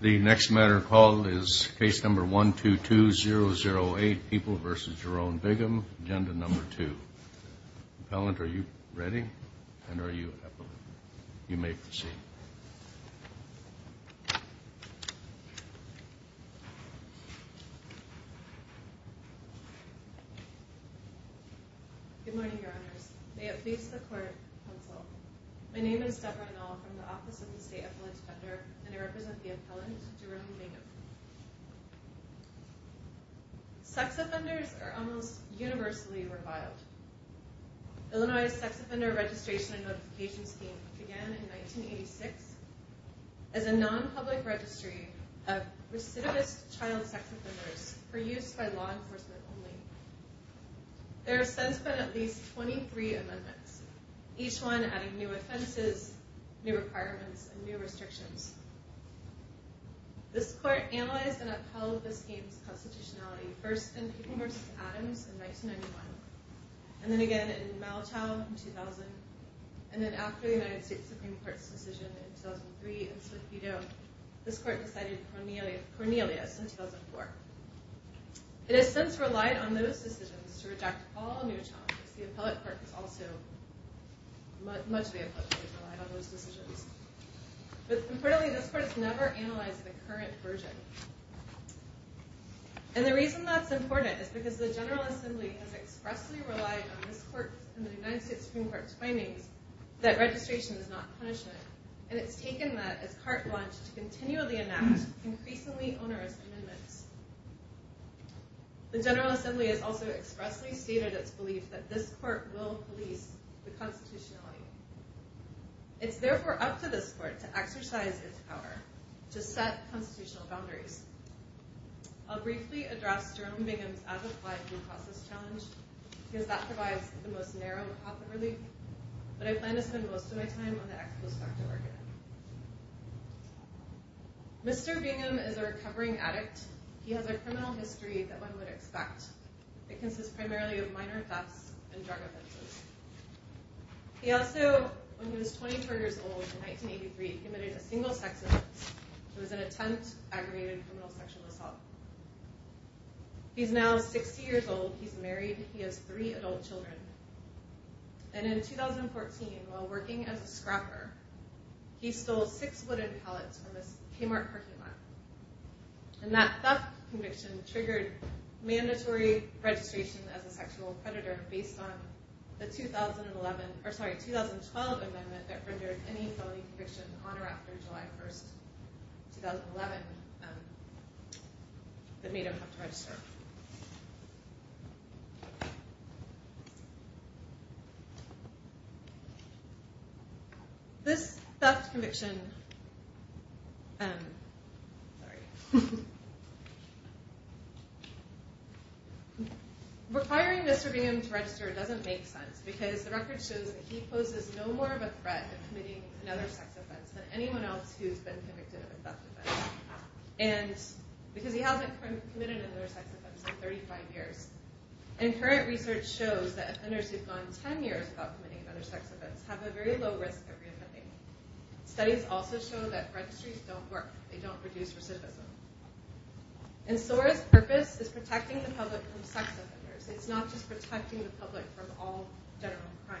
The next matter of call is Case Number 122008, People v. Jerome Bingham, Agenda Number 2. Appellant, are you ready? And are you epileptic? You may proceed. Good morning, Your Honors. May it please the Court, Counsel. My name is Deborah Annal from the Office of the State Appellant Defender, and I represent the Appellant, Jerome Bingham. Sex offenders are almost universally reviled. Illinois' Sex Offender Registration and Notification Scheme began in 1986 as a non-public registry of recidivist child sex offenders for use by law enforcement only. There have since been at least 23 amendments, each one adding new offenses, new requirements, and new restrictions. This Court analyzed and upheld the scheme's constitutionality first in People v. Adams in 1991, and then again in Maltow in 2000, and then after the United States Supreme Court's decision in 2003 in Swift-Vido, this Court decided Cornelius in 2004. It has since relied on those decisions to reject all new challenges. The Appellate Court has also relied on those decisions. But importantly, this Court has never analyzed the current version. And the reason that's important is because the General Assembly has expressly relied on this Court and the United States Supreme Court's findings that registration is not punishment. And it's taken that as carte blanche to continually enact increasingly onerous amendments. The General Assembly has also expressly stated its belief that this Court will police the constitutionality. It's therefore up to this Court to exercise its power to set constitutional boundaries. I'll briefly address Jerome Bingham's as-applied due process challenge, because that provides the most narrow path of relief. But I plan to spend most of my time on the ex post facto argument. Mr. Bingham is a recovering addict. He has a criminal history that one would expect. It consists primarily of minor thefts and drug offenses. He also, when he was 24 years old in 1983, committed a single sex offense. It was an attempt at aggravated criminal sexual assault. He's now 60 years old. He's married. He has three adult children. And in 2014, while working as a scrapper, he stole six wooden pallets from a Kmart parking lot. And that theft conviction triggered mandatory registration as a sexual predator based on the 2012 amendment that rendered any felony conviction on or after July 1st, 2011, that made him have to register. Requiring Mr. Bingham to register doesn't make sense, because the record shows that he poses no more of a threat of committing another sex offense than anyone else who's been convicted of a theft offense. Because he hasn't committed another sex offense in 35 years. And current research shows that offenders who've gone 10 years without committing another sex offense have a very low risk of reoffending. Studies also show that registries don't work. They don't produce recidivism. And SOAR's purpose is protecting the public from sex offenders. It's not just protecting the public from all general crime.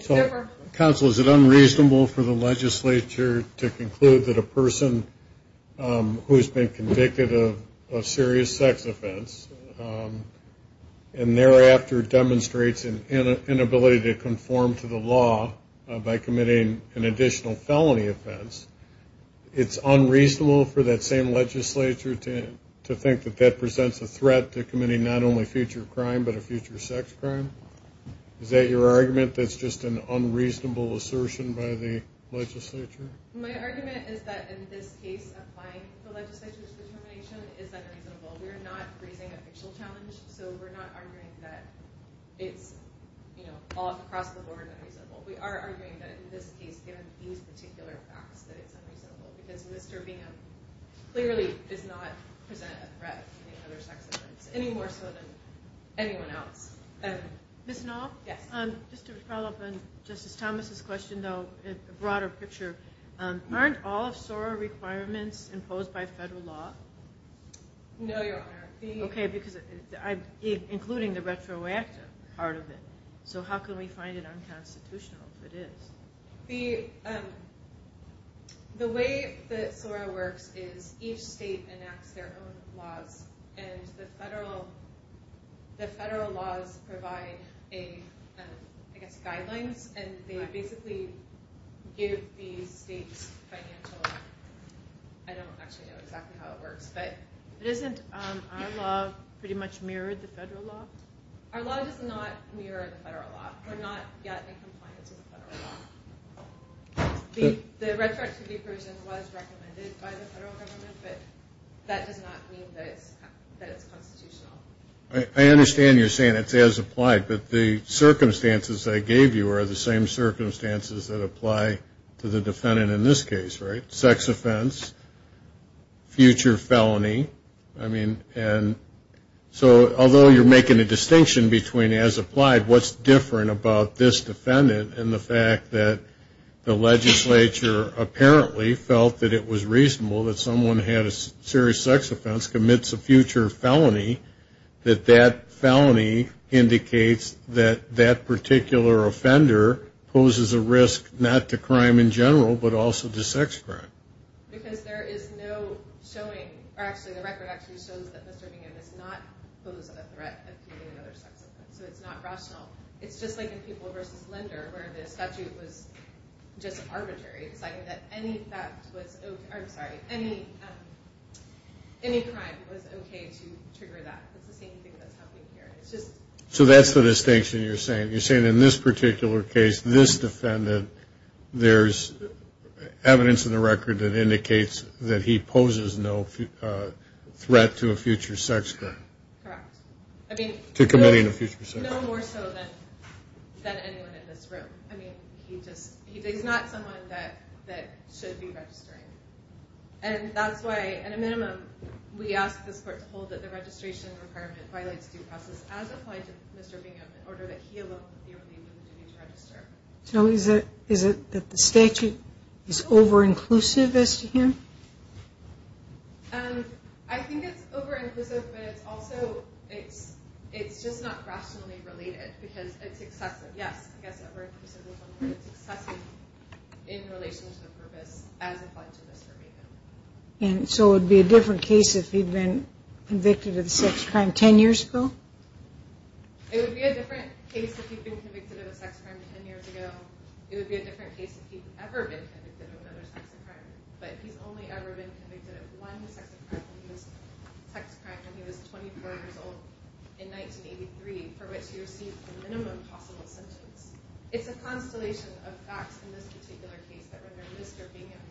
So, counsel, is it unreasonable for the legislature to conclude that a person who's been convicted of a serious sex offense and thereafter demonstrates an inability to conform to the law by committing an additional felony offense, it's unreasonable for that same legislature to think that that presents a threat to committing not only future crime, but a future sex crime? Is that your argument, that it's just an unreasonable assertion by the legislature? My argument is that in this case, applying the legislature's determination is unreasonable. We're not raising a fictional challenge, so we're not arguing that it's all across the board unreasonable. We are arguing that in this case, given these particular facts, that it's unreasonable. Because Mr. Bingham clearly does not present a threat to committing another sex offense, any more so than anyone else. Ms. Knoll? Yes. Just to follow up on Justice Thomas' question, though, a broader picture, aren't all of SOAR requirements imposed by federal law? No, Your Honor. Okay, because including the retroactive part of it. So how can we find it unconstitutional if it is? The way that SOAR works is each state enacts their own laws, and the federal laws provide, I guess, guidelines, and they basically give the states financial – I don't actually know exactly how it works. But isn't our law pretty much mirrored the federal law? Our law does not mirror the federal law. We're not yet in compliance with the federal law. The retroactivity provision was recommended by the federal government, but that does not mean that it's constitutional. I understand you're saying it's as applied, but the circumstances I gave you are the same circumstances that apply to the defendant in this case, right? So although you're making a distinction between as applied, what's different about this defendant and the fact that the legislature apparently felt that it was reasonable that someone who had a serious sex offense commits a future felony, that that felony indicates that that particular offender poses a risk not to crime in general, but also to sex crime. Because there is no showing – or actually, the record actually shows that Mr. Bingham does not pose a threat of committing another sex offense, so it's not rational. It's just like in People v. Linder, where the statute was just arbitrary, deciding that any crime was okay to trigger that. It's the same thing that's happening here. So that's the distinction you're saying. You're saying in this particular case, this defendant, there's evidence in the record that indicates that he poses no threat to a future sex crime. Correct. I mean – To committing a future sex crime. No more so than anyone in this room. I mean, he just – he's not someone that should be registering. And that's why, at a minimum, we ask this court to hold that the registration requirement violates due process as applied to Mr. Bingham in order that he alone would be relieved of the duty to register. So is it that the statute is over-inclusive as to him? I think it's over-inclusive, but it's also – it's just not rationally related, because it's excessive. Yes, I guess over-inclusive is one word. It's excessive in relation to the purpose as applied to Mr. Bingham. And so it would be a different case if he'd been convicted of a sex crime 10 years ago? It would be a different case if he'd been convicted of a sex crime 10 years ago. It would be a different case if he'd ever been convicted of another sex crime, but he's only ever been convicted of one sex crime when he was 24 years old in 1983, for which he received the minimum possible sentence. It's a constellation of facts in this particular case that render Mr. Bingham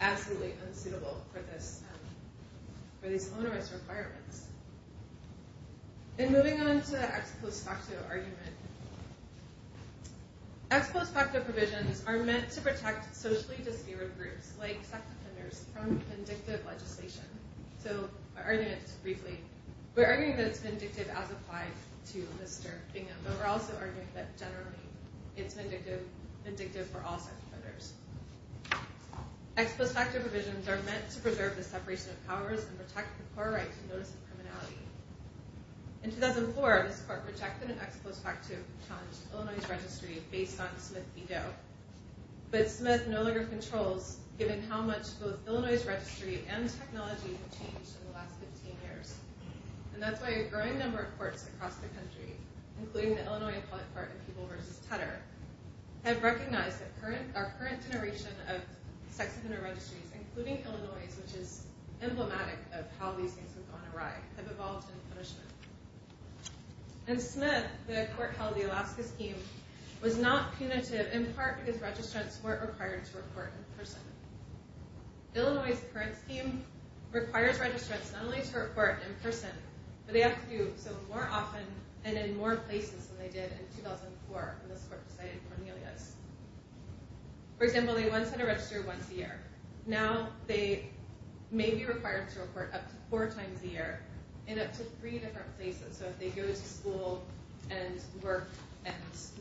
absolutely unsuitable for this – And moving on to the ex post facto argument. Ex post facto provisions are meant to protect socially disparate groups, like sex offenders, from vindictive legislation. So my argument is briefly, we're arguing that it's vindictive as applied to Mr. Bingham, but we're also arguing that generally it's vindictive for all sex offenders. Ex post facto provisions are meant to preserve the separation of powers and protect the poor right to notice of criminality. In 2004, this court rejected an ex post facto challenge to Illinois' registry based on Smith v. Doe. But Smith no longer controls, given how much both Illinois' registry and technology have changed in the last 15 years. And that's why a growing number of courts across the country, including the Illinois Appellate Court in People v. Tedder, have recognized that our current generation of sex offender registries, including Illinois', which is emblematic of how these things have gone awry, have evolved in punishment. In Smith, the court held the Alaska scheme was not punitive in part because registrants weren't required to report in person. Illinois' current scheme requires registrants not only to report in person, but they have to do so more often and in more places than they did in 2004 when this court decided Cornelius. For example, they once had to register once a year. Now they may be required to report up to four times a year in up to three different places. So if they go to school and work and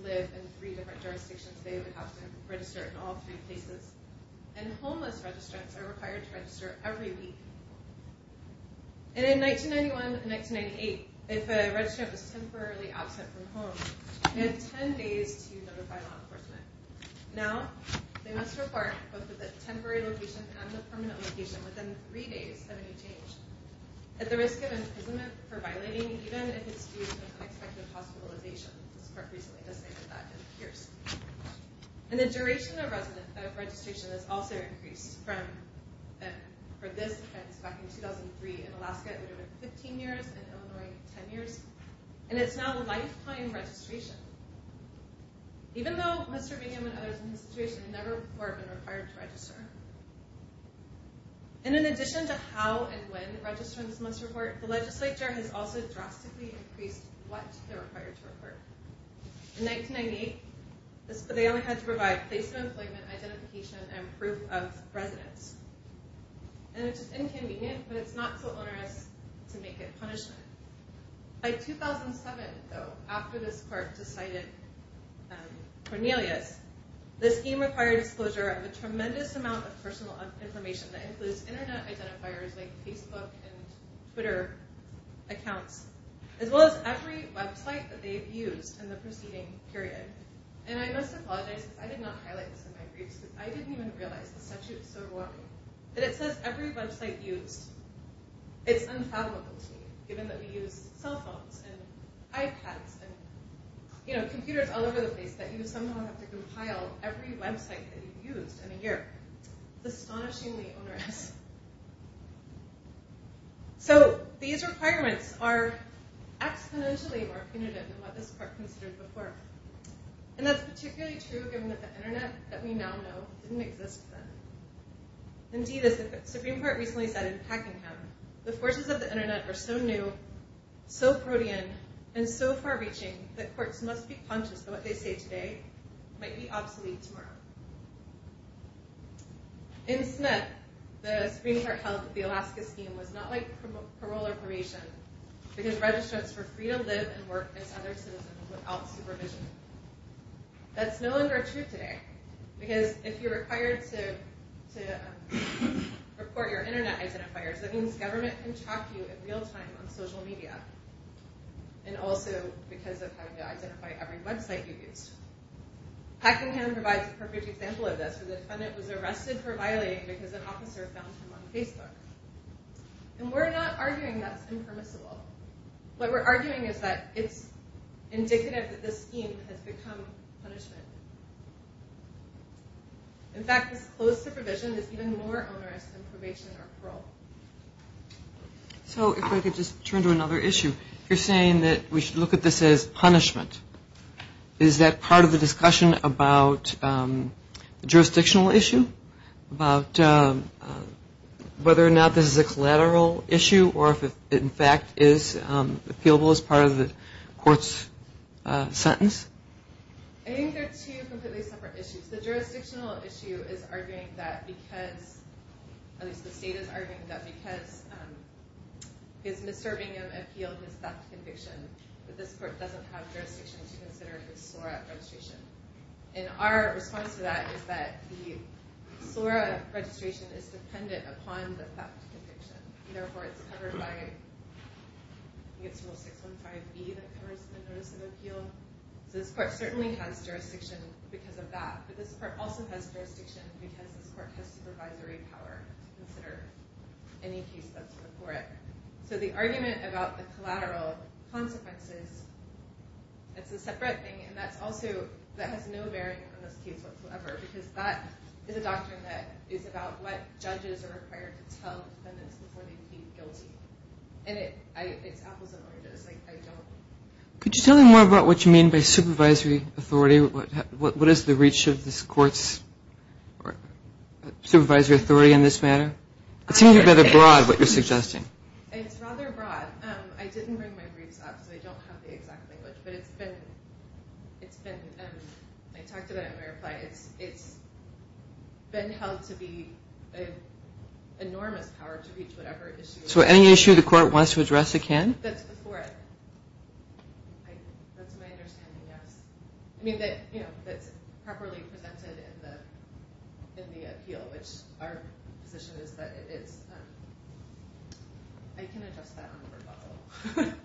live in three different jurisdictions, they would have to register in all three places. And homeless registrants are required to register every week. And in 1991 and 1998, if a registrant was temporarily absent from home, they had ten days to notify law enforcement. Now, they must report both at the temporary location and the permanent location within three days of any change, at the risk of imprisonment for violating even if it's due to an unexpected hospitalization. This court recently decided that in Pierce. And the duration of registration has also increased for this offense back in 2003 in Alaska. It would have been 15 years in Illinois, 10 years. And it's now a lifetime registration. Even though Mr. Bingham and others in his situation had never before been required to register. And in addition to how and when registrants must report, the legislature has also drastically increased what they're required to report. In 1998, they only had to provide placement, employment, identification, and proof of residence. And it's just inconvenient, but it's not so onerous to make it punishment. By 2007, though, after this court decided Cornelius, this scheme required disclosure of a tremendous amount of personal information that includes internet identifiers like Facebook and Twitter accounts, as well as every website that they've used in the preceding period. And I must apologize, because I did not highlight this in my briefs, because I didn't even realize the statute was so overwhelming, that it says every website used. It's unfathomable to me, given that we use cell phones and iPads and computers all over the place, that you somehow have to compile every website that you've used in a year. It's astonishingly onerous. So, these requirements are exponentially more punitive than what this court considered before. And that's particularly true given that the internet that we now know didn't exist then. Indeed, as the Supreme Court recently said in Packingham, the forces of the internet are so new, so protean, and so far-reaching, that courts must be conscious that what they say today might be obsolete tomorrow. In Smith, the Supreme Court held that the Alaska Scheme was not like parole or probation, because registrants were free to live and work as other citizens without supervision. That's no longer true today, because if you're required to report your internet identifiers, that means government can track you in real time on social media, and also because of having to identify every website you used. Packingham provides a perfect example of this, where the defendant was arrested for violating because an officer found him on Facebook. And we're not arguing that's impermissible. What we're arguing is that it's indicative that this scheme has become punishment. In fact, this closed supervision is even more onerous than probation or parole. So, if I could just turn to another issue. You're saying that we should look at this as punishment. Is that part of the discussion about the jurisdictional issue, about whether or not this is a collateral issue, or if it, in fact, is appealable as part of the court's sentence? I think they're two completely separate issues. The jurisdictional issue is arguing that because, at least the state is arguing that, because Mr. Packingham appealed his theft conviction, that this court doesn't have jurisdiction to consider his SORA registration. And our response to that is that the SORA registration is dependent upon the theft conviction. Therefore, it's covered by, I think it's rule 615B that covers the notice of appeal. So, this court certainly has jurisdiction because of that. But this court also has jurisdiction because this court has supervisory power to consider any case that's before it. So, the argument about the collateral consequences, that's a separate thing. And that's also, that has no bearing on this case whatsoever, because that is a doctrine that is about what judges are required to tell defendants before they plead guilty. And it's apples and oranges. I don't. Could you tell me more about what you mean by supervisory authority? What is the reach of this court's supervisory authority in this matter? It seems to be rather broad, what you're suggesting. It's rather broad. I didn't bring my briefs up, so I don't have the exact language. But it's been, I talked about it in my reply. It's been held to be an enormous power to reach whatever issue. So, any issue the court wants to address, it can? That's before it. That's my understanding, yes. I mean, that's properly presented in the appeal, which our position is that it is. I can adjust that on the rebuttal.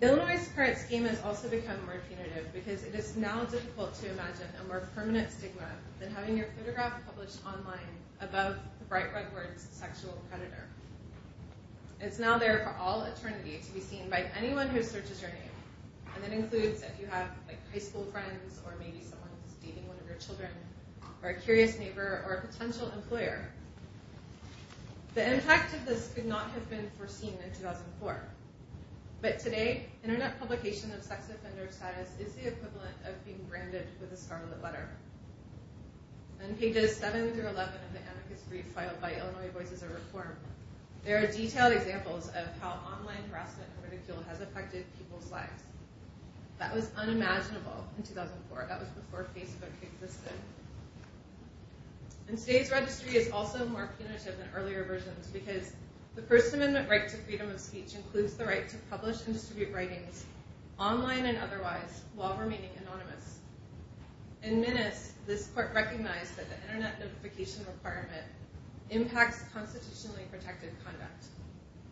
Illinois' current scheme has also become more punitive because it is now difficult to imagine a more permanent stigma than having your photograph published online above the bright red words sexual predator. It's now there for all eternity to be seen by anyone who searches your name. And that includes if you have high school friends or maybe someone who's dating one of your children or a curious neighbor or a potential employer. The impact of this could not have been foreseen in 2004. But today, internet publication of sex offender status is the equivalent of being branded with a scarlet letter. On pages 7 through 11 of the anarchist brief filed by Illinois Voices of Reform, there are detailed examples of how online harassment and ridicule has affected people's lives. That was unimaginable in 2004. That was before Facebook existed. And today's registry is also more punitive than earlier versions because the First Amendment right to freedom of speech includes the right to publish and distribute writings, online and otherwise, while remaining anonymous. In Minnes, this court recognized that the internet notification requirement impacts constitutionally protected conduct.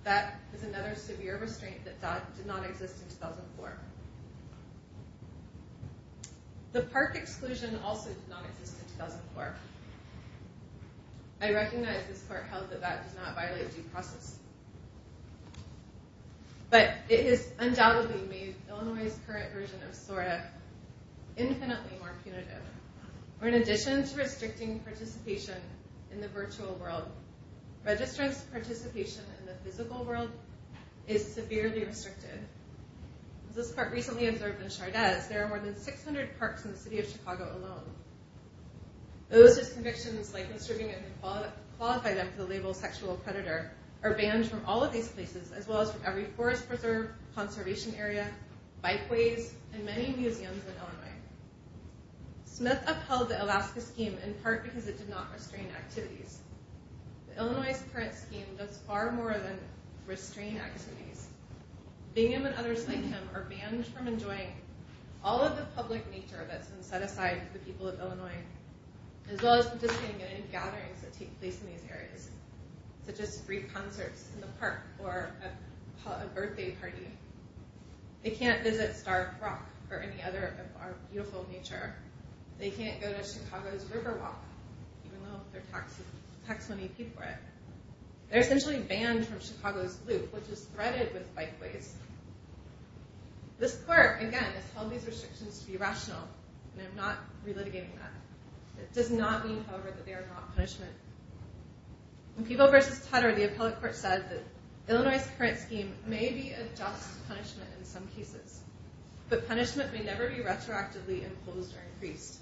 That is another severe restraint that did not exist in 2004. The park exclusion also did not exist in 2004. I recognize this court held that that does not violate due process. We are infinitely more punitive. In addition to restricting participation in the virtual world, registrants' participation in the physical world is severely restricted. As this court recently observed in Chardez, there are more than 600 parks in the city of Chicago alone. Those whose convictions, like observing and qualifying them for the label sexual predator, are banned from all of these places, as well as from every forest preserve, conservation area, bikeways, and many museums in Illinois. Smith upheld the Alaska Scheme in part because it did not restrain activities. Illinois' current scheme does far more than restrain activities. Bingham and others like him are banned from enjoying all of the public nature that's been set aside for the people of Illinois, as well as participating in gatherings that take place in these areas, such as free concerts in the park or a birthday party. They can't visit Stark Rock or any other of our beautiful nature. They can't go to Chicago's Riverwalk, even though they're tax money people there. They're essentially banned from Chicago's Loop, which is threaded with bikeways. This court, again, has held these restrictions to be rational, and I'm not relitigating that. It does not mean, however, that they are not punishment. In People v. Tutter, the appellate court said that they may adjust punishment in some cases, but punishment may never be retroactively imposed or increased.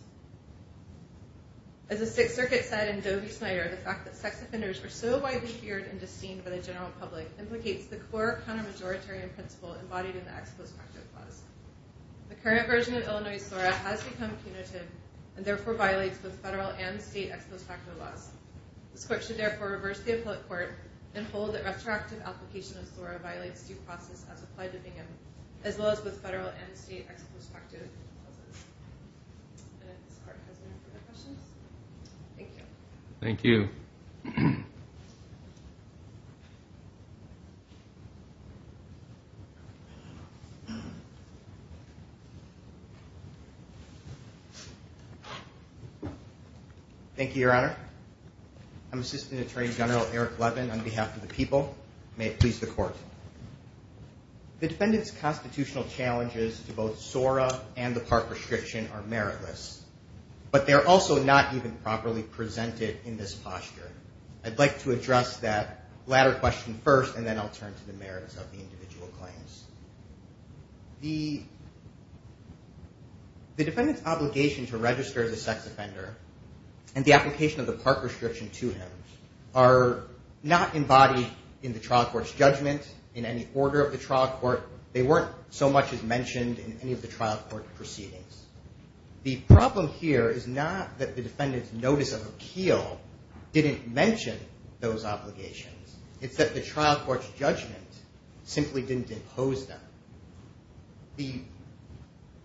As the Sixth Circuit said in Doe v. Snyder, the fact that sex offenders are so widely feared and disdained by the general public implicates the core counter-majoritarian principle embodied in the Ex Post Facto Clause. The current version of Illinois' SORA has become punitive and therefore violates both federal and state ex post facto laws. This court should therefore reverse the appellate court and hold that retroactive application of SORA violates due process as applied to Bingham as well as both federal and state ex post facto clauses. And this court has no further questions. Thank you. Thank you. Thank you, Your Honor. I'm Assistant Attorney General Eric Levin on behalf of the people. May it please the Court. The defendant's constitutional challenges to both SORA and the park restriction are meritless, but they're also not even properly presented in this posture. I'd like to address that latter question first, and then I'll turn to the merits of the individual claims. The defendant's obligation to register as a sex offender and the application of the park restriction to him are not embodied in the trial court's judgment, in any order of the trial court. They weren't so much as mentioned in any of the trial court proceedings. The problem here is not that the defendant's notice of appeal didn't mention those obligations. It's that the trial court's judgment simply didn't impose them.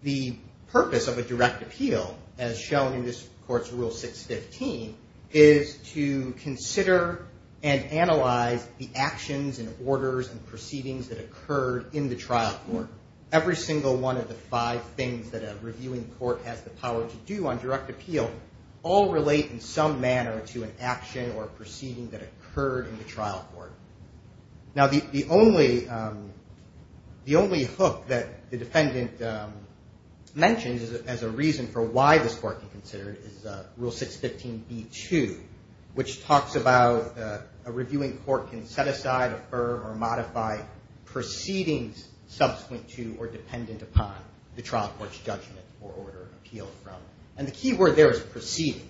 The purpose of a direct appeal, as shown in this court's Rule 615, is to consider and analyze the actions and orders and proceedings that occurred in the trial court. Every single one of the five things that a reviewing court has the power to do on direct appeal all relate in some manner to an action or proceeding that occurred in the trial court. Now, the only hook that the defendant mentions as a reason for why this court can consider it is Rule 615b-2, which talks about a reviewing court can set aside, affirm, or modify proceedings subsequent to or dependent upon the trial court's judgment or order of appeal from. And the key word there is proceeding.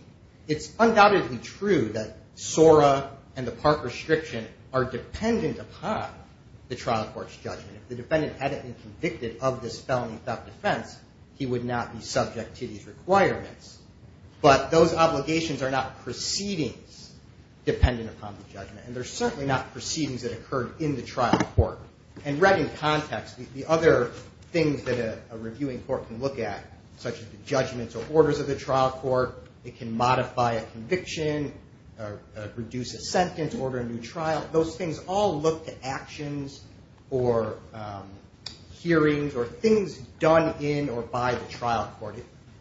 It's undoubtedly true that SORA and the park restriction are dependent upon the trial court's judgment. If the defendant hadn't been convicted of this felony theft defense, he would not be subject to these requirements. But those obligations are not proceedings dependent upon the judgment, and they're certainly not proceedings that occurred in the trial court. And read in context, the other things that a reviewing court can look at, such as the judgments or orders of the trial court. It can modify a conviction or reduce a sentence, order a new trial. Those things all look to actions or hearings or things done in or by the trial court.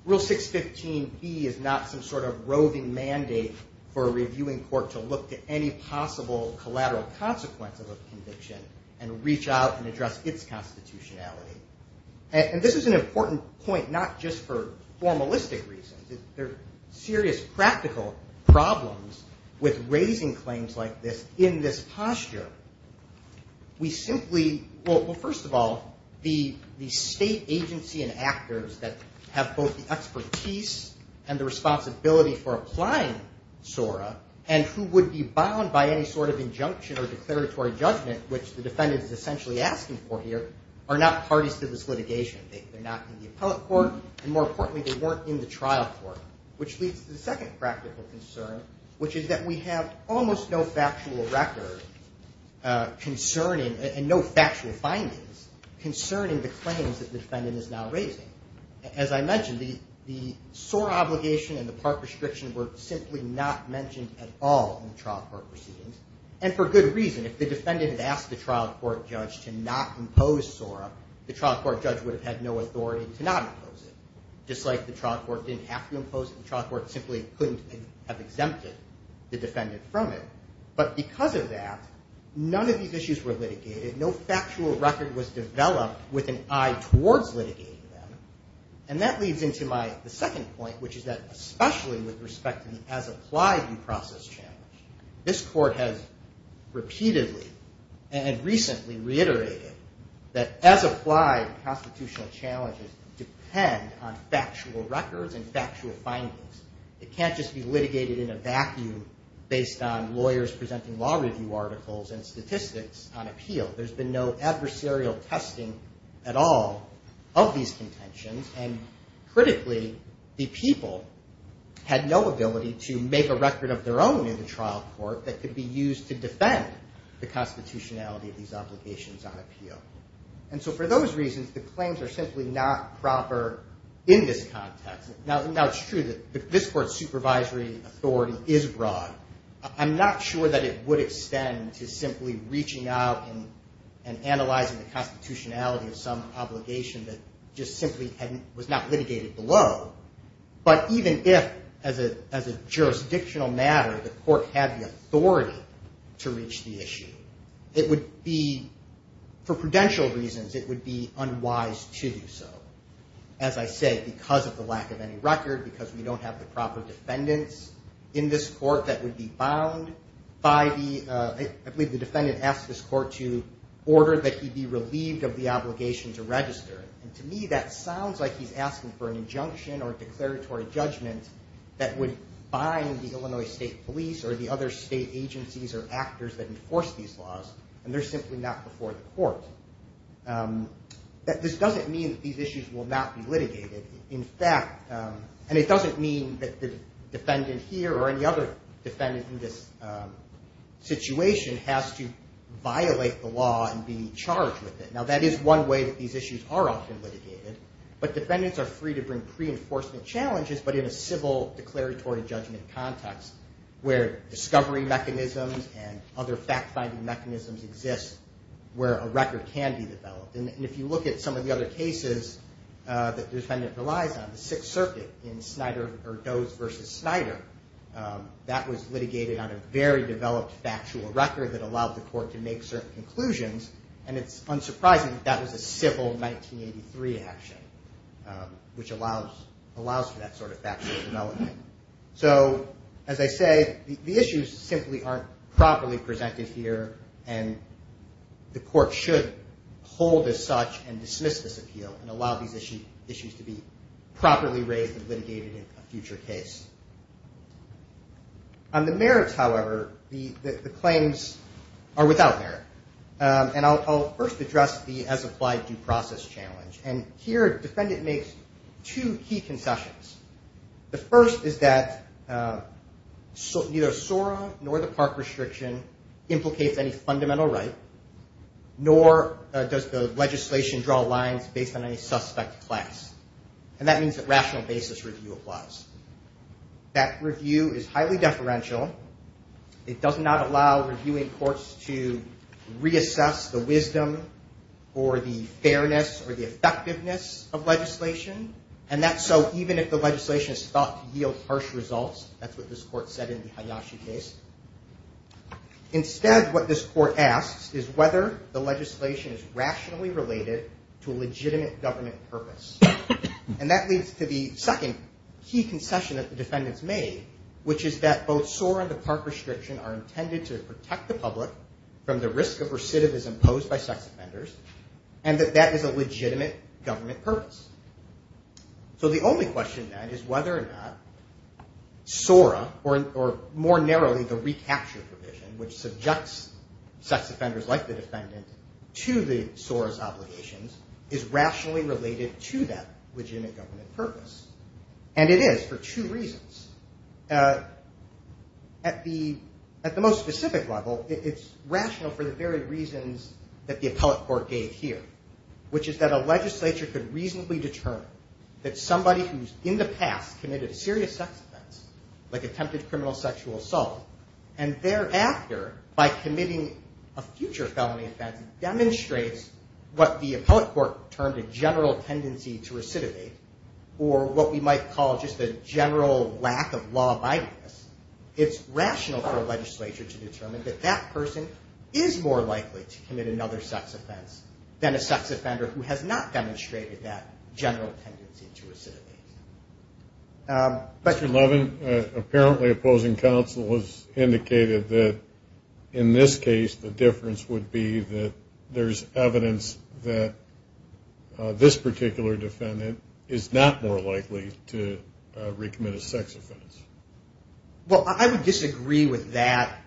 Rule 615b is not some sort of roving mandate for a reviewing court to look to any possible collateral consequence of a conviction and reach out and address its constitutionality. And this is an important point, not just for formalistic reasons. There are serious practical problems with raising claims like this in this posture. We simply, well, first of all, the state agency and actors that have both the expertise and the responsibility for applying SORA and who would be bound by any sort of injunction or declaratory judgment, which the defendant is essentially asking for here, are not parties to this litigation. They're not in the appellate court, and more importantly, they weren't in the trial court, which leads to the second practical concern, which is that we have almost no factual record concerning and no factual findings concerning the claims that the defendant is now raising. As I mentioned, the SORA obligation and the part restriction were simply not mentioned at all in the trial court proceedings, and for good reason. If the defendant had asked the trial court judge to not impose SORA, the trial court judge would have had no authority to not impose it. Just like the trial court didn't have to impose it, the trial court simply couldn't have exempted the defendant from it. But because of that, none of these issues were litigated. No factual record was developed with an eye towards litigating them. And that leads into my second point, which is that especially with respect to the as-applied due process challenge, this court has repeatedly and recently reiterated that as-applied constitutional challenges depend on factual records and factual findings. It can't just be litigated in a vacuum based on lawyers presenting law review articles and statistics on appeal. There's been no adversarial testing at all of these contentions, and critically, the people had no ability to make a record of their own in the trial court that could be used to defend the constitutionality of these obligations on appeal. And so for those reasons, the claims are simply not proper in this context. Now, it's true that this court's supervisory authority is broad. I'm not sure that it would extend to simply reaching out and analyzing the constitutionality of some obligation that just simply was not litigated below. But even if, as a jurisdictional matter, the court had the authority to reach the issue, it would be, for prudential reasons, it would be unwise to do so. As I said, because of the lack of any record, because we don't have the proper defendants in this court that would be bound by the, I believe the defendant asked this court to order that he be relieved of the obligation to register. And to me, that sounds like he's asking for an injunction or declaratory judgment that would bind the Illinois State Police or the other state agencies or actors that enforce these laws, and they're simply not before the court. This doesn't mean that these issues will not be litigated. In fact, and it doesn't mean that the defendant here or any other defendant in this situation has to violate the law and be charged with it. Now, that is one way that these issues are often litigated, but defendants are free to bring pre-enforcement challenges, but in a civil declaratory judgment context where discovery mechanisms and other fact-finding mechanisms exist where a record can be developed. And if you look at some of the other cases that the defendant relies on, the Sixth Circuit in Snyder or Doe's versus Snyder, that was litigated on a very developed factual record that allowed the court to make certain conclusions, and it's unsurprising that that was a civil 1983 action, which allows for that sort of factual development. So as I say, the issues simply aren't properly presented here, and the court should hold as such and dismiss this appeal and allow these issues to be properly raised and litigated in a future case. On the merits, however, the claims are without merit, and I'll first address the as-applied due process challenge, and here a defendant makes two key concessions. The first is that neither SORA nor the park restriction implicates any fundamental right, nor does the legislation draw lines based on any suspect class, and that means that rational basis review applies. That review is highly deferential. It does not allow reviewing courts to reassess the wisdom or the fairness or the effectiveness of legislation, and that's so even if the legislation is thought to yield harsh results. That's what this court said in the Hayashi case. Instead, what this court asks is whether the legislation is rationally related to a legitimate government purpose, and that leads to the second key concession that the defendants made, which is that both SORA and the park restriction are intended to protect the public from the risk of recidivism posed by sex offenders and that that is a legitimate government purpose. So the only question, then, is whether or not SORA or more narrowly the recapture provision, which subjects sex offenders like the defendant to the SORA's obligations, is rationally related to that legitimate government purpose, and it is for two reasons. At the most specific level, it's rational for the very reasons that the appellate court gave here, which is that a legislature could reasonably determine that somebody who's in the past committed a serious sex offense, like attempted criminal sexual assault, and thereafter, by committing a future felony offense, demonstrates what the appellate court termed a general tendency to recidivate, or what we might call just a general lack of law-abidingness. It's rational for a legislature to determine that that person is more likely to commit another sex offense than a sex offender who has not demonstrated that general tendency to recidivate. Mr. Levin, apparently opposing counsel has indicated that in this case, the difference would be that there's evidence that this particular defendant is not more likely to recommit a sex offense. Well, I would disagree with that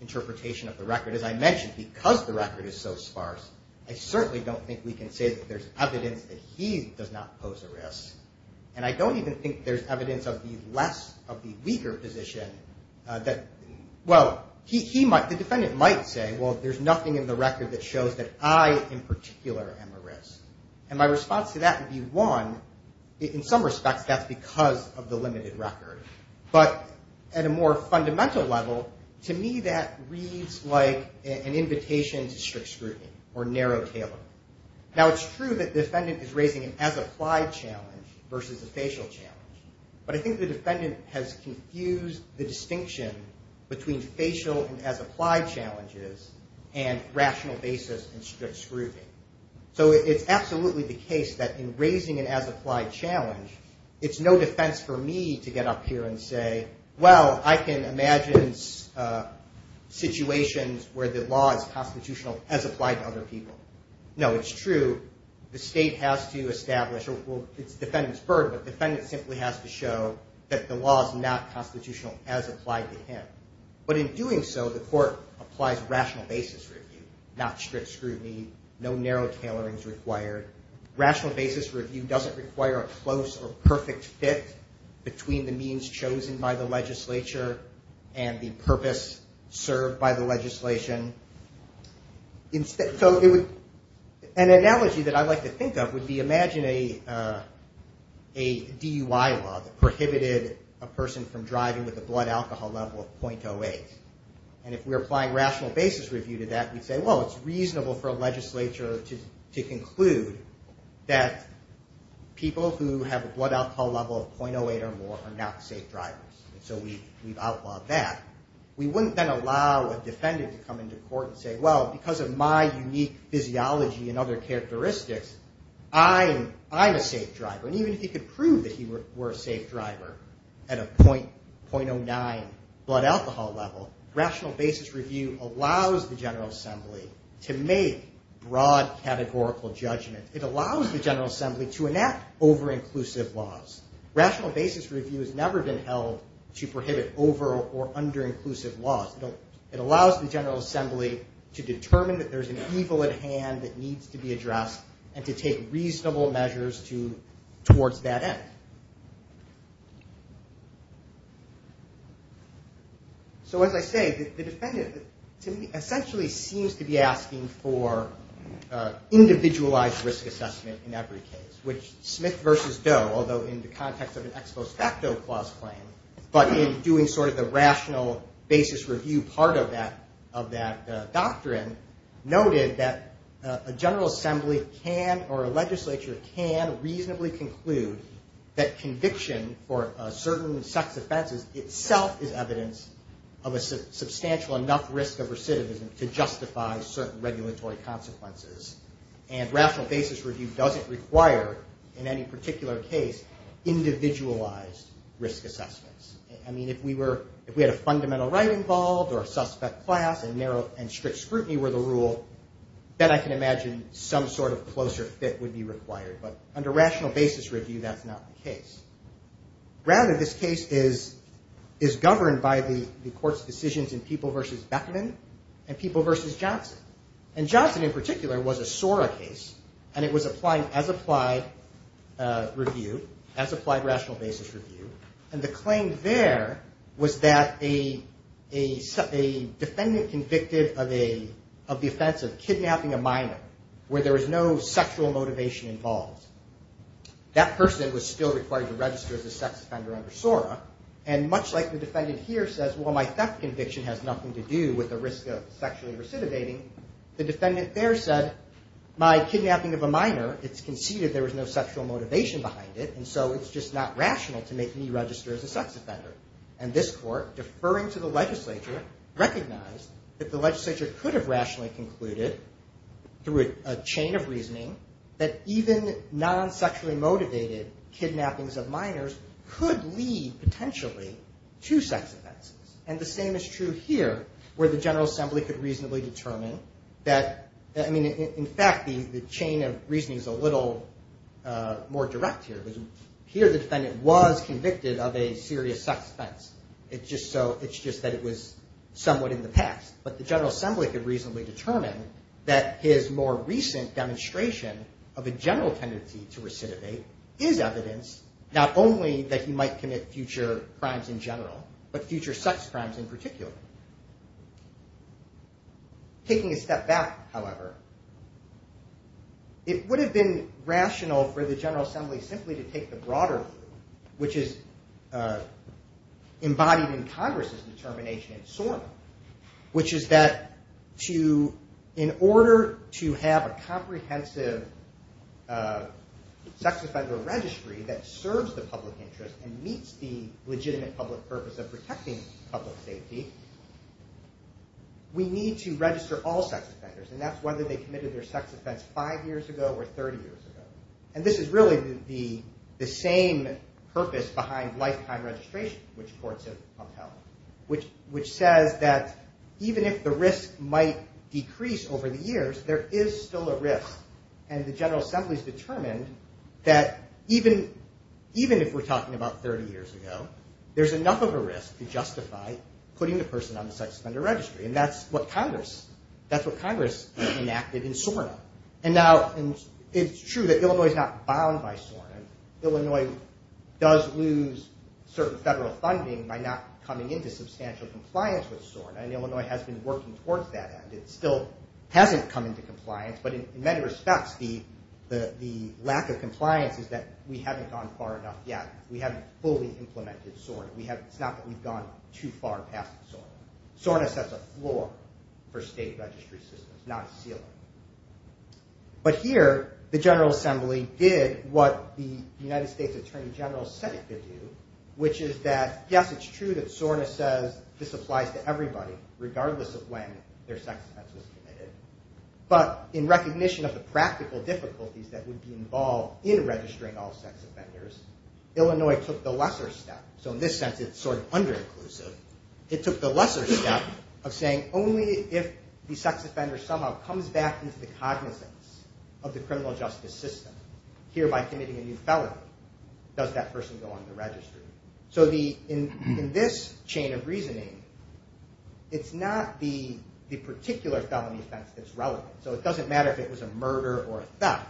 interpretation of the record. As I mentioned, because the record is so sparse, I certainly don't think we can say that there's evidence that he does not pose a risk, and I don't even think there's evidence of the weaker position that... Well, the defendant might say, well, there's nothing in the record that shows that I, in particular, am at risk. And my response to that would be, one, in some respects, that's because of the limited record. But at a more fundamental level, to me, that reads like an invitation to strict scrutiny, or narrow tailoring. Now, it's true that the defendant is raising an as-applied challenge versus a facial challenge, but I think the defendant has confused the distinction between facial and as-applied challenges and rational basis and strict scrutiny. So it's absolutely the case that in raising an as-applied challenge, it's no defense for me to get up here and say, well, I can imagine situations where the law is constitutional as applied to other people. No, it's true. The state has to establish... Well, it's the defendant's burden, but the defendant simply has to show that the law is not constitutional as applied to him. But in doing so, the court applies rational basis review, not strict scrutiny, no narrow tailoring is required. Rational basis review doesn't require a close or perfect fit between the means chosen by the legislature and the purpose served by the legislation. So an analogy that I like to think of would be imagine a DUI law that prohibited a person from driving with a blood alcohol level of .08. And if we're applying rational basis review to that, we'd say, well, it's reasonable for a legislature to conclude that people who have a blood alcohol level of .08 or more are not safe drivers, and so we've outlawed that. We wouldn't then allow a defendant to come into court and say, well, because of my unique physiology and other characteristics, I'm a safe driver. And even if he could prove that he were a safe driver at a .09 blood alcohol level, rational basis review allows the General Assembly to make broad categorical judgments. It allows the General Assembly to enact over-inclusive laws. Rational basis review has never been held to prohibit over- or under-inclusive laws. It allows the General Assembly to determine that there's an evil at hand that needs to be addressed and to take reasonable measures towards that end. So as I say, the defendant essentially seems to be asking for individualized risk assessment in every case, which Smith v. Doe, although in the context of an ex post facto clause claim, but in doing sort of the rational basis review part of that doctrine, noted that a General Assembly can, or a legislature, can reasonably conclude that conviction for certain sex offenses itself is evidence of a substantial enough risk of recidivism to justify certain regulatory consequences. And rational basis review doesn't require, in any particular case, individualized risk assessments. I mean, if we had a fundamental right involved or a suspect class and strict scrutiny were the rule, then I can imagine some sort of closer fit would be required. But under rational basis review, that's not the case. Rather, this case is governed by the Court's decisions in People v. Beckman and People v. Johnson. And Johnson, in particular, was a SORA case, and it was applying as-applied review, as-applied rational basis review. And the claim there was that a defendant convicted of the offense of kidnapping a minor where there was no sexual motivation involved. That person was still required to register as a sex offender under SORA. And much like the defendant here says, well, my theft conviction has nothing to do with the risk of sexually recidivating, the defendant there said, my kidnapping of a minor, it's conceded there was no sexual motivation behind it, and so it's just not rational to make me register as a sex offender. And this Court, deferring to the legislature, recognized that the legislature could have rationally concluded, through a chain of reasoning, that even non-sexually motivated kidnappings of minors could lead, potentially, to sex offenses. And the same is true here, where the General Assembly could reasonably determine that, I mean, in fact, the chain of reasoning is a little more direct here. Here, the defendant was convicted of a serious sex offense. It's just that it was somewhat in the past. But the General Assembly could reasonably determine that his more recent demonstration of a general tendency to recidivate is evidence not only that he might commit future crimes in general, but future sex crimes in particular. Taking a step back, however, it would have been rational for the General Assembly simply to take the broader view, which is embodied in Congress's determination in SORNA, which is that, in order to have a comprehensive sex offender registry that serves the public interest and meets the legitimate public purpose of protecting public safety, we need to register all sex offenders. And that's whether they committed their sex offense five years ago or 30 years ago. And this is really the same purpose behind lifetime registration, which courts have upheld, which says that even if the risk might decrease over the years, there is still a risk. And the General Assembly's determined that even if we're talking about 30 years ago, there's enough of a risk to justify putting the person on the sex offender registry. And that's what Congress enacted in SORNA. And now it's true that Illinois is not bound by SORNA. Illinois does lose certain federal funding by not coming into substantial compliance with SORNA, and Illinois has been working towards that end. It still hasn't come into compliance, but in many respects, the lack of compliance is that we haven't gone far enough yet. We haven't fully implemented SORNA. It's not that we've gone too far past SORNA. SORNA sets a floor for state registry systems, not a ceiling. But here, the General Assembly did what the United States Attorney General said it could do, which is that, yes, it's true that SORNA says this applies to everybody, regardless of when their sex offense was committed. But in recognition of the practical difficulties that would be involved in registering all sex offenders, Illinois took the lesser step. So in this sense, it's sort of under-inclusive. It took the lesser step of saying, only if the sex offender somehow comes back into the cognizance of the criminal justice system, hereby committing a new felony, does that person go on the registry. So in this chain of reasoning, it's not the particular felony offense that's relevant. So it doesn't matter if it was a murder or a theft.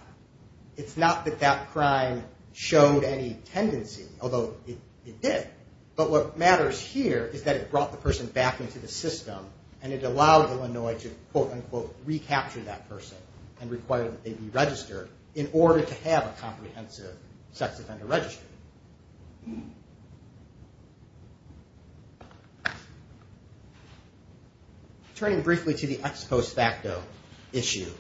It's not that that crime showed any tendency, although it did, but what matters here is that it brought the person back into the system, and it allowed Illinois to, quote-unquote, recapture that person and require that they be registered in order to have a comprehensive sex offender registry. Turning briefly to the ex post facto issue,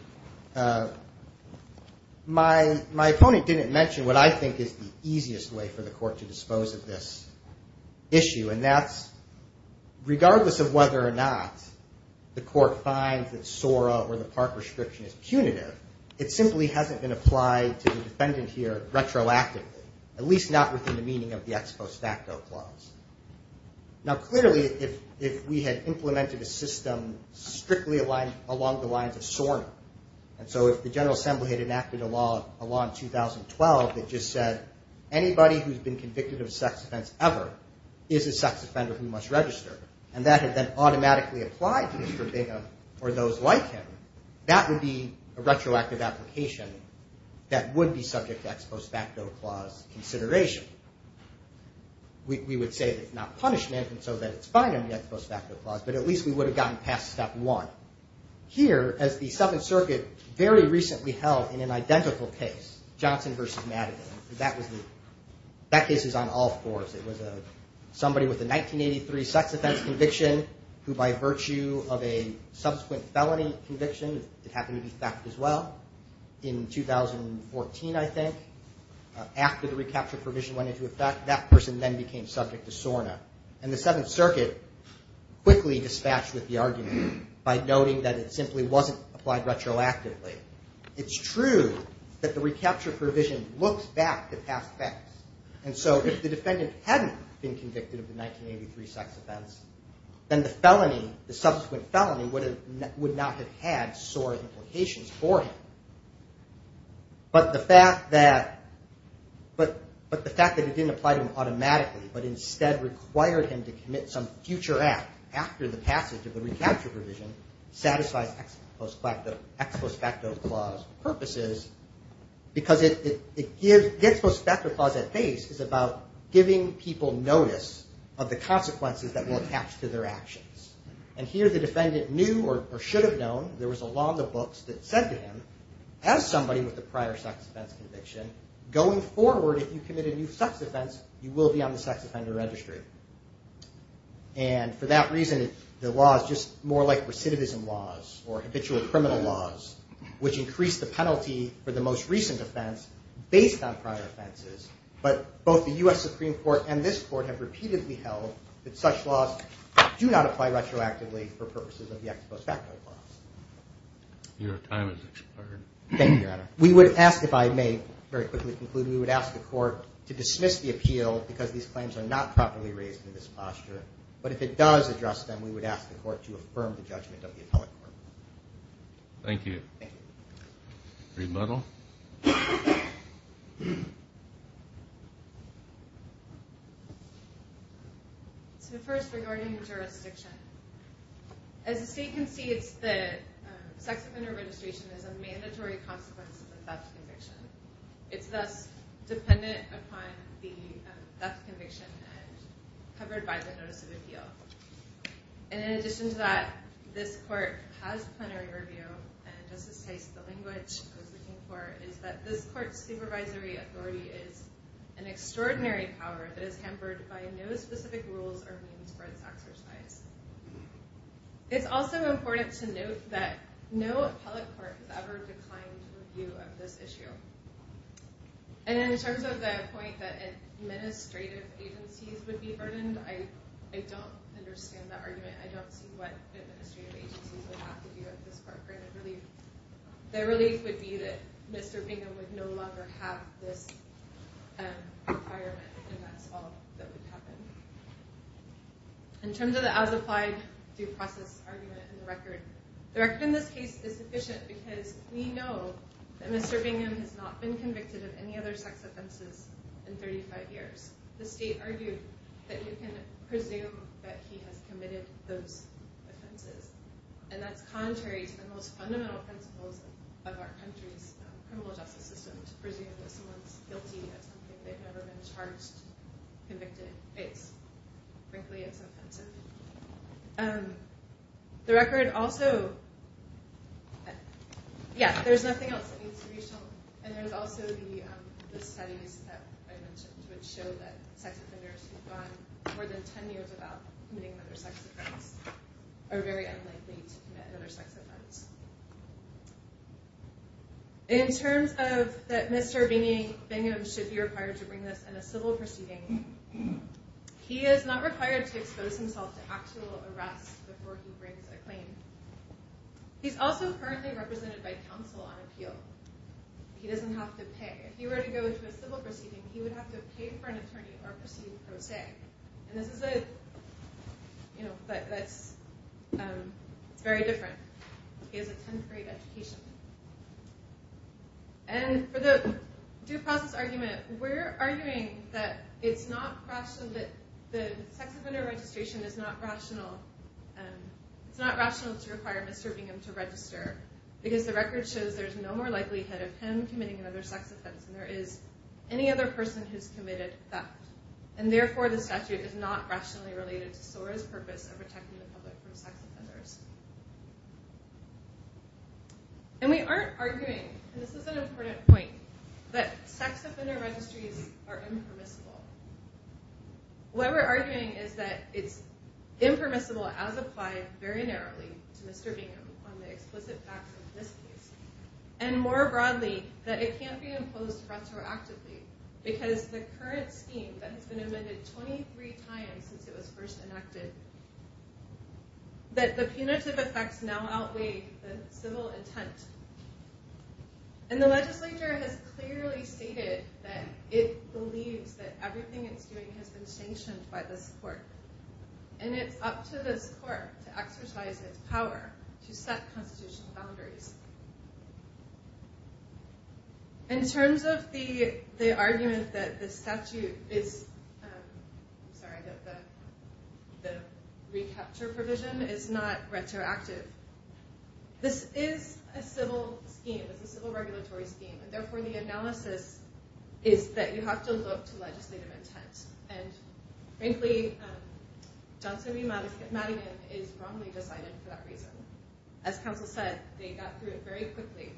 my opponent didn't mention what I think is the easiest way for the court to dispose of this issue, and that's regardless of whether or not the court finds that SORA or the park restriction is punitive, it simply hasn't been applied to the defendant here retroactively, at least not within the meaning of the ex post facto clause. Now clearly, if we had implemented a system strictly along the lines of SORNA, and so if the General Assembly had enacted a law in 2012 that just said anybody who's been convicted of a sex offense ever is a sex offender who must register, and that had then automatically applied to Mr. Bingham or those like him, that would be a retroactive application that would be subject to ex post facto clause consideration. We would say that it's not punishment, and so that it's fine under the ex post facto clause, but at least we would have gotten past step one. Here, as the Seventh Circuit very recently held in an identical case, Johnson v. Madigan, that case is on all fours. It was somebody with a 1983 sex offense conviction who by virtue of a subsequent felony conviction, it happened to be theft as well, in 2014 I think, after the recapture provision went into effect, that person then became subject to SORNA, and the Seventh Circuit quickly dispatched with the argument by noting that it simply wasn't applied retroactively. It's true that the recapture provision looks back to past thefts, and so if the defendant hadn't been convicted of the 1983 sex offense, then the felony, the subsequent felony would not have had SORNA implications for him, but the fact that it didn't apply to him automatically, but instead required him to commit some future act after the passage of the recapture provision satisfies ex post facto clause purposes because the ex post facto clause at base is about giving people notice of the consequences that will attach to their actions, and here the defendant knew or should have known, there was a law in the books that said to him, as somebody with a prior sex offense conviction, going forward if you commit a new sex offense, you will be on the sex offender registry, and for that reason the law is just more like recidivism laws or habitual criminal laws, which increase the penalty for the most recent offense based on prior offenses, but both the U.S. Supreme Court and this court have repeatedly held that such laws do not apply retroactively for purposes of the ex post facto clause. Your time has expired. Thank you, Your Honor. We would ask, if I may very quickly conclude, we would ask the court to dismiss the appeal because these claims are not properly raised in this posture, but if it does address them, we would ask the court to affirm the judgment of the appellate court. Thank you. Thank you. Remodel. So first, regarding jurisdiction. As the state concedes, the sex offender registration is a mandatory consequence of the theft conviction. It's thus dependent upon the theft conviction and covered by the notice of appeal. And in addition to that, this court has plenary review, and Justice Tice, the language I was looking for, is that this court's supervisory authority is an extraordinary power that is hampered by no specific rules or means for its exercise. It's also important to note that no appellate court has ever declined review of this issue. And in terms of the point that administrative agencies would be burdened, I don't understand that argument. I don't see what administrative agencies would have to do at this point for any relief. The relief would be that Mr. Bingham would no longer have this requirement, and that's all that would happen. In terms of the as-applied due process argument in the record, the record in this case is sufficient because we know that Mr. Bingham has not been convicted of any other sex offenses in 35 years. The state argued that you can presume that he has committed those offenses, and that's contrary to the most fundamental principles of our country's criminal justice system, to presume that someone's guilty of something they've never been charged, convicted, it's, frankly, it's offensive. The record also... Yeah, there's nothing else that needs to be shown. And there's also the studies that I mentioned which show that sex offenders who've gone more than 10 years without committing another sex offense are very unlikely to commit another sex offense. In terms of that Mr. Bingham should be required to bring this in a civil proceeding, he is not required to expose himself to actual arrest before he brings a claim. He's also currently represented by counsel on appeal. He doesn't have to pay. If he were to go into a civil proceeding, he would have to pay for an attorney or proceed pro se. And this is a... You know, that's... He has a 10th grade education. And for the due process argument, we're arguing that it's not rational... that the sex offender registration is not rational. It's not rational to require Mr. Bingham to register because the record shows there's no more likelihood of him committing another sex offense than there is any other person who's committed theft. And therefore, the statute is not rationally related to SORA's purpose of protecting the public from sex offenders. And we aren't arguing, and this is an important point, that sex offender registries are impermissible. What we're arguing is that it's impermissible as applied very narrowly to Mr. Bingham on the explicit facts of this case, and more broadly, that it can't be imposed retroactively because the current scheme that has been amended 23 times since it was first enacted, that the punitive effects now outweigh the civil intent. And the legislature has clearly stated that it believes that everything it's doing has been sanctioned by this court. And it's up to this court to exercise its power to set constitutional boundaries. In terms of the argument that the statute is... I'm sorry, that the recapture provision is not retroactive. This is a civil scheme. It's a civil regulatory scheme. And therefore, the analysis is that you have to look to legislative intent. And frankly, Johnson v. Madigan is wrongly decided for that reason. As counsel said, they got through it very quickly.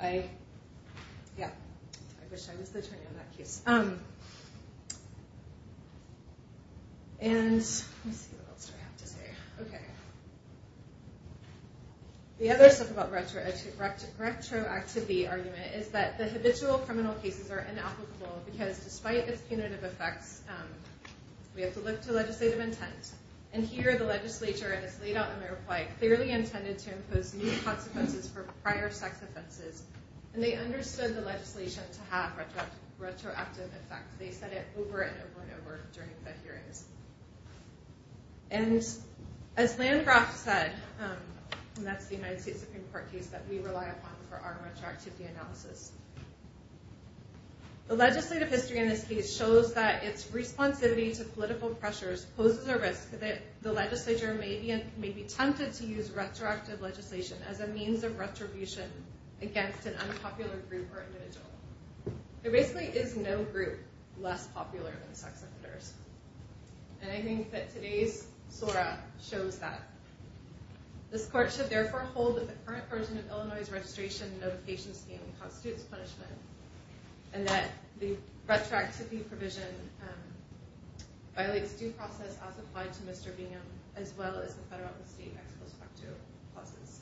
I... yeah. I wish I was the attorney on that case. And... let's see, what else do I have to say? Okay. The other stuff about retroactivity argument is that the habitual criminal cases are inapplicable because despite its punitive effects, we have to look to legislative intent. And here, the legislature has laid out in their reply clearly intended to impose new consequences for prior sex offenses. And they understood the legislation to have retroactive effects. They said it over and over and over during the hearings. And as Landgraf said, and that's the United States Supreme Court case that we rely upon for our retroactivity analysis, the legislative history in this case shows that its responsivity to political pressures poses a risk that the legislature may be tempted to use retroactive legislation as a means of retribution against an unpopular group or individual. There basically is no group less popular than sex offenders. And I think that today's SORA shows that. This court should therefore hold that the current version of Illinois' registration notification scheme constitutes punishment and that the retroactivity provision violates due process as applied to Mr. Bingham as well as the federal and state ex post facto clauses.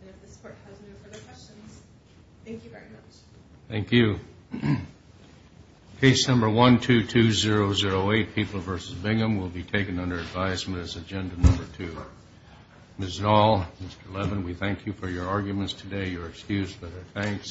And if this court has no further questions, thank you very much. Thank you. Case number 122008, People v. Bingham, will be taken under advisement as agenda number two. Ms. Dahl, Mr. Levin, we thank you for your arguments today. You're excused, but our thanks.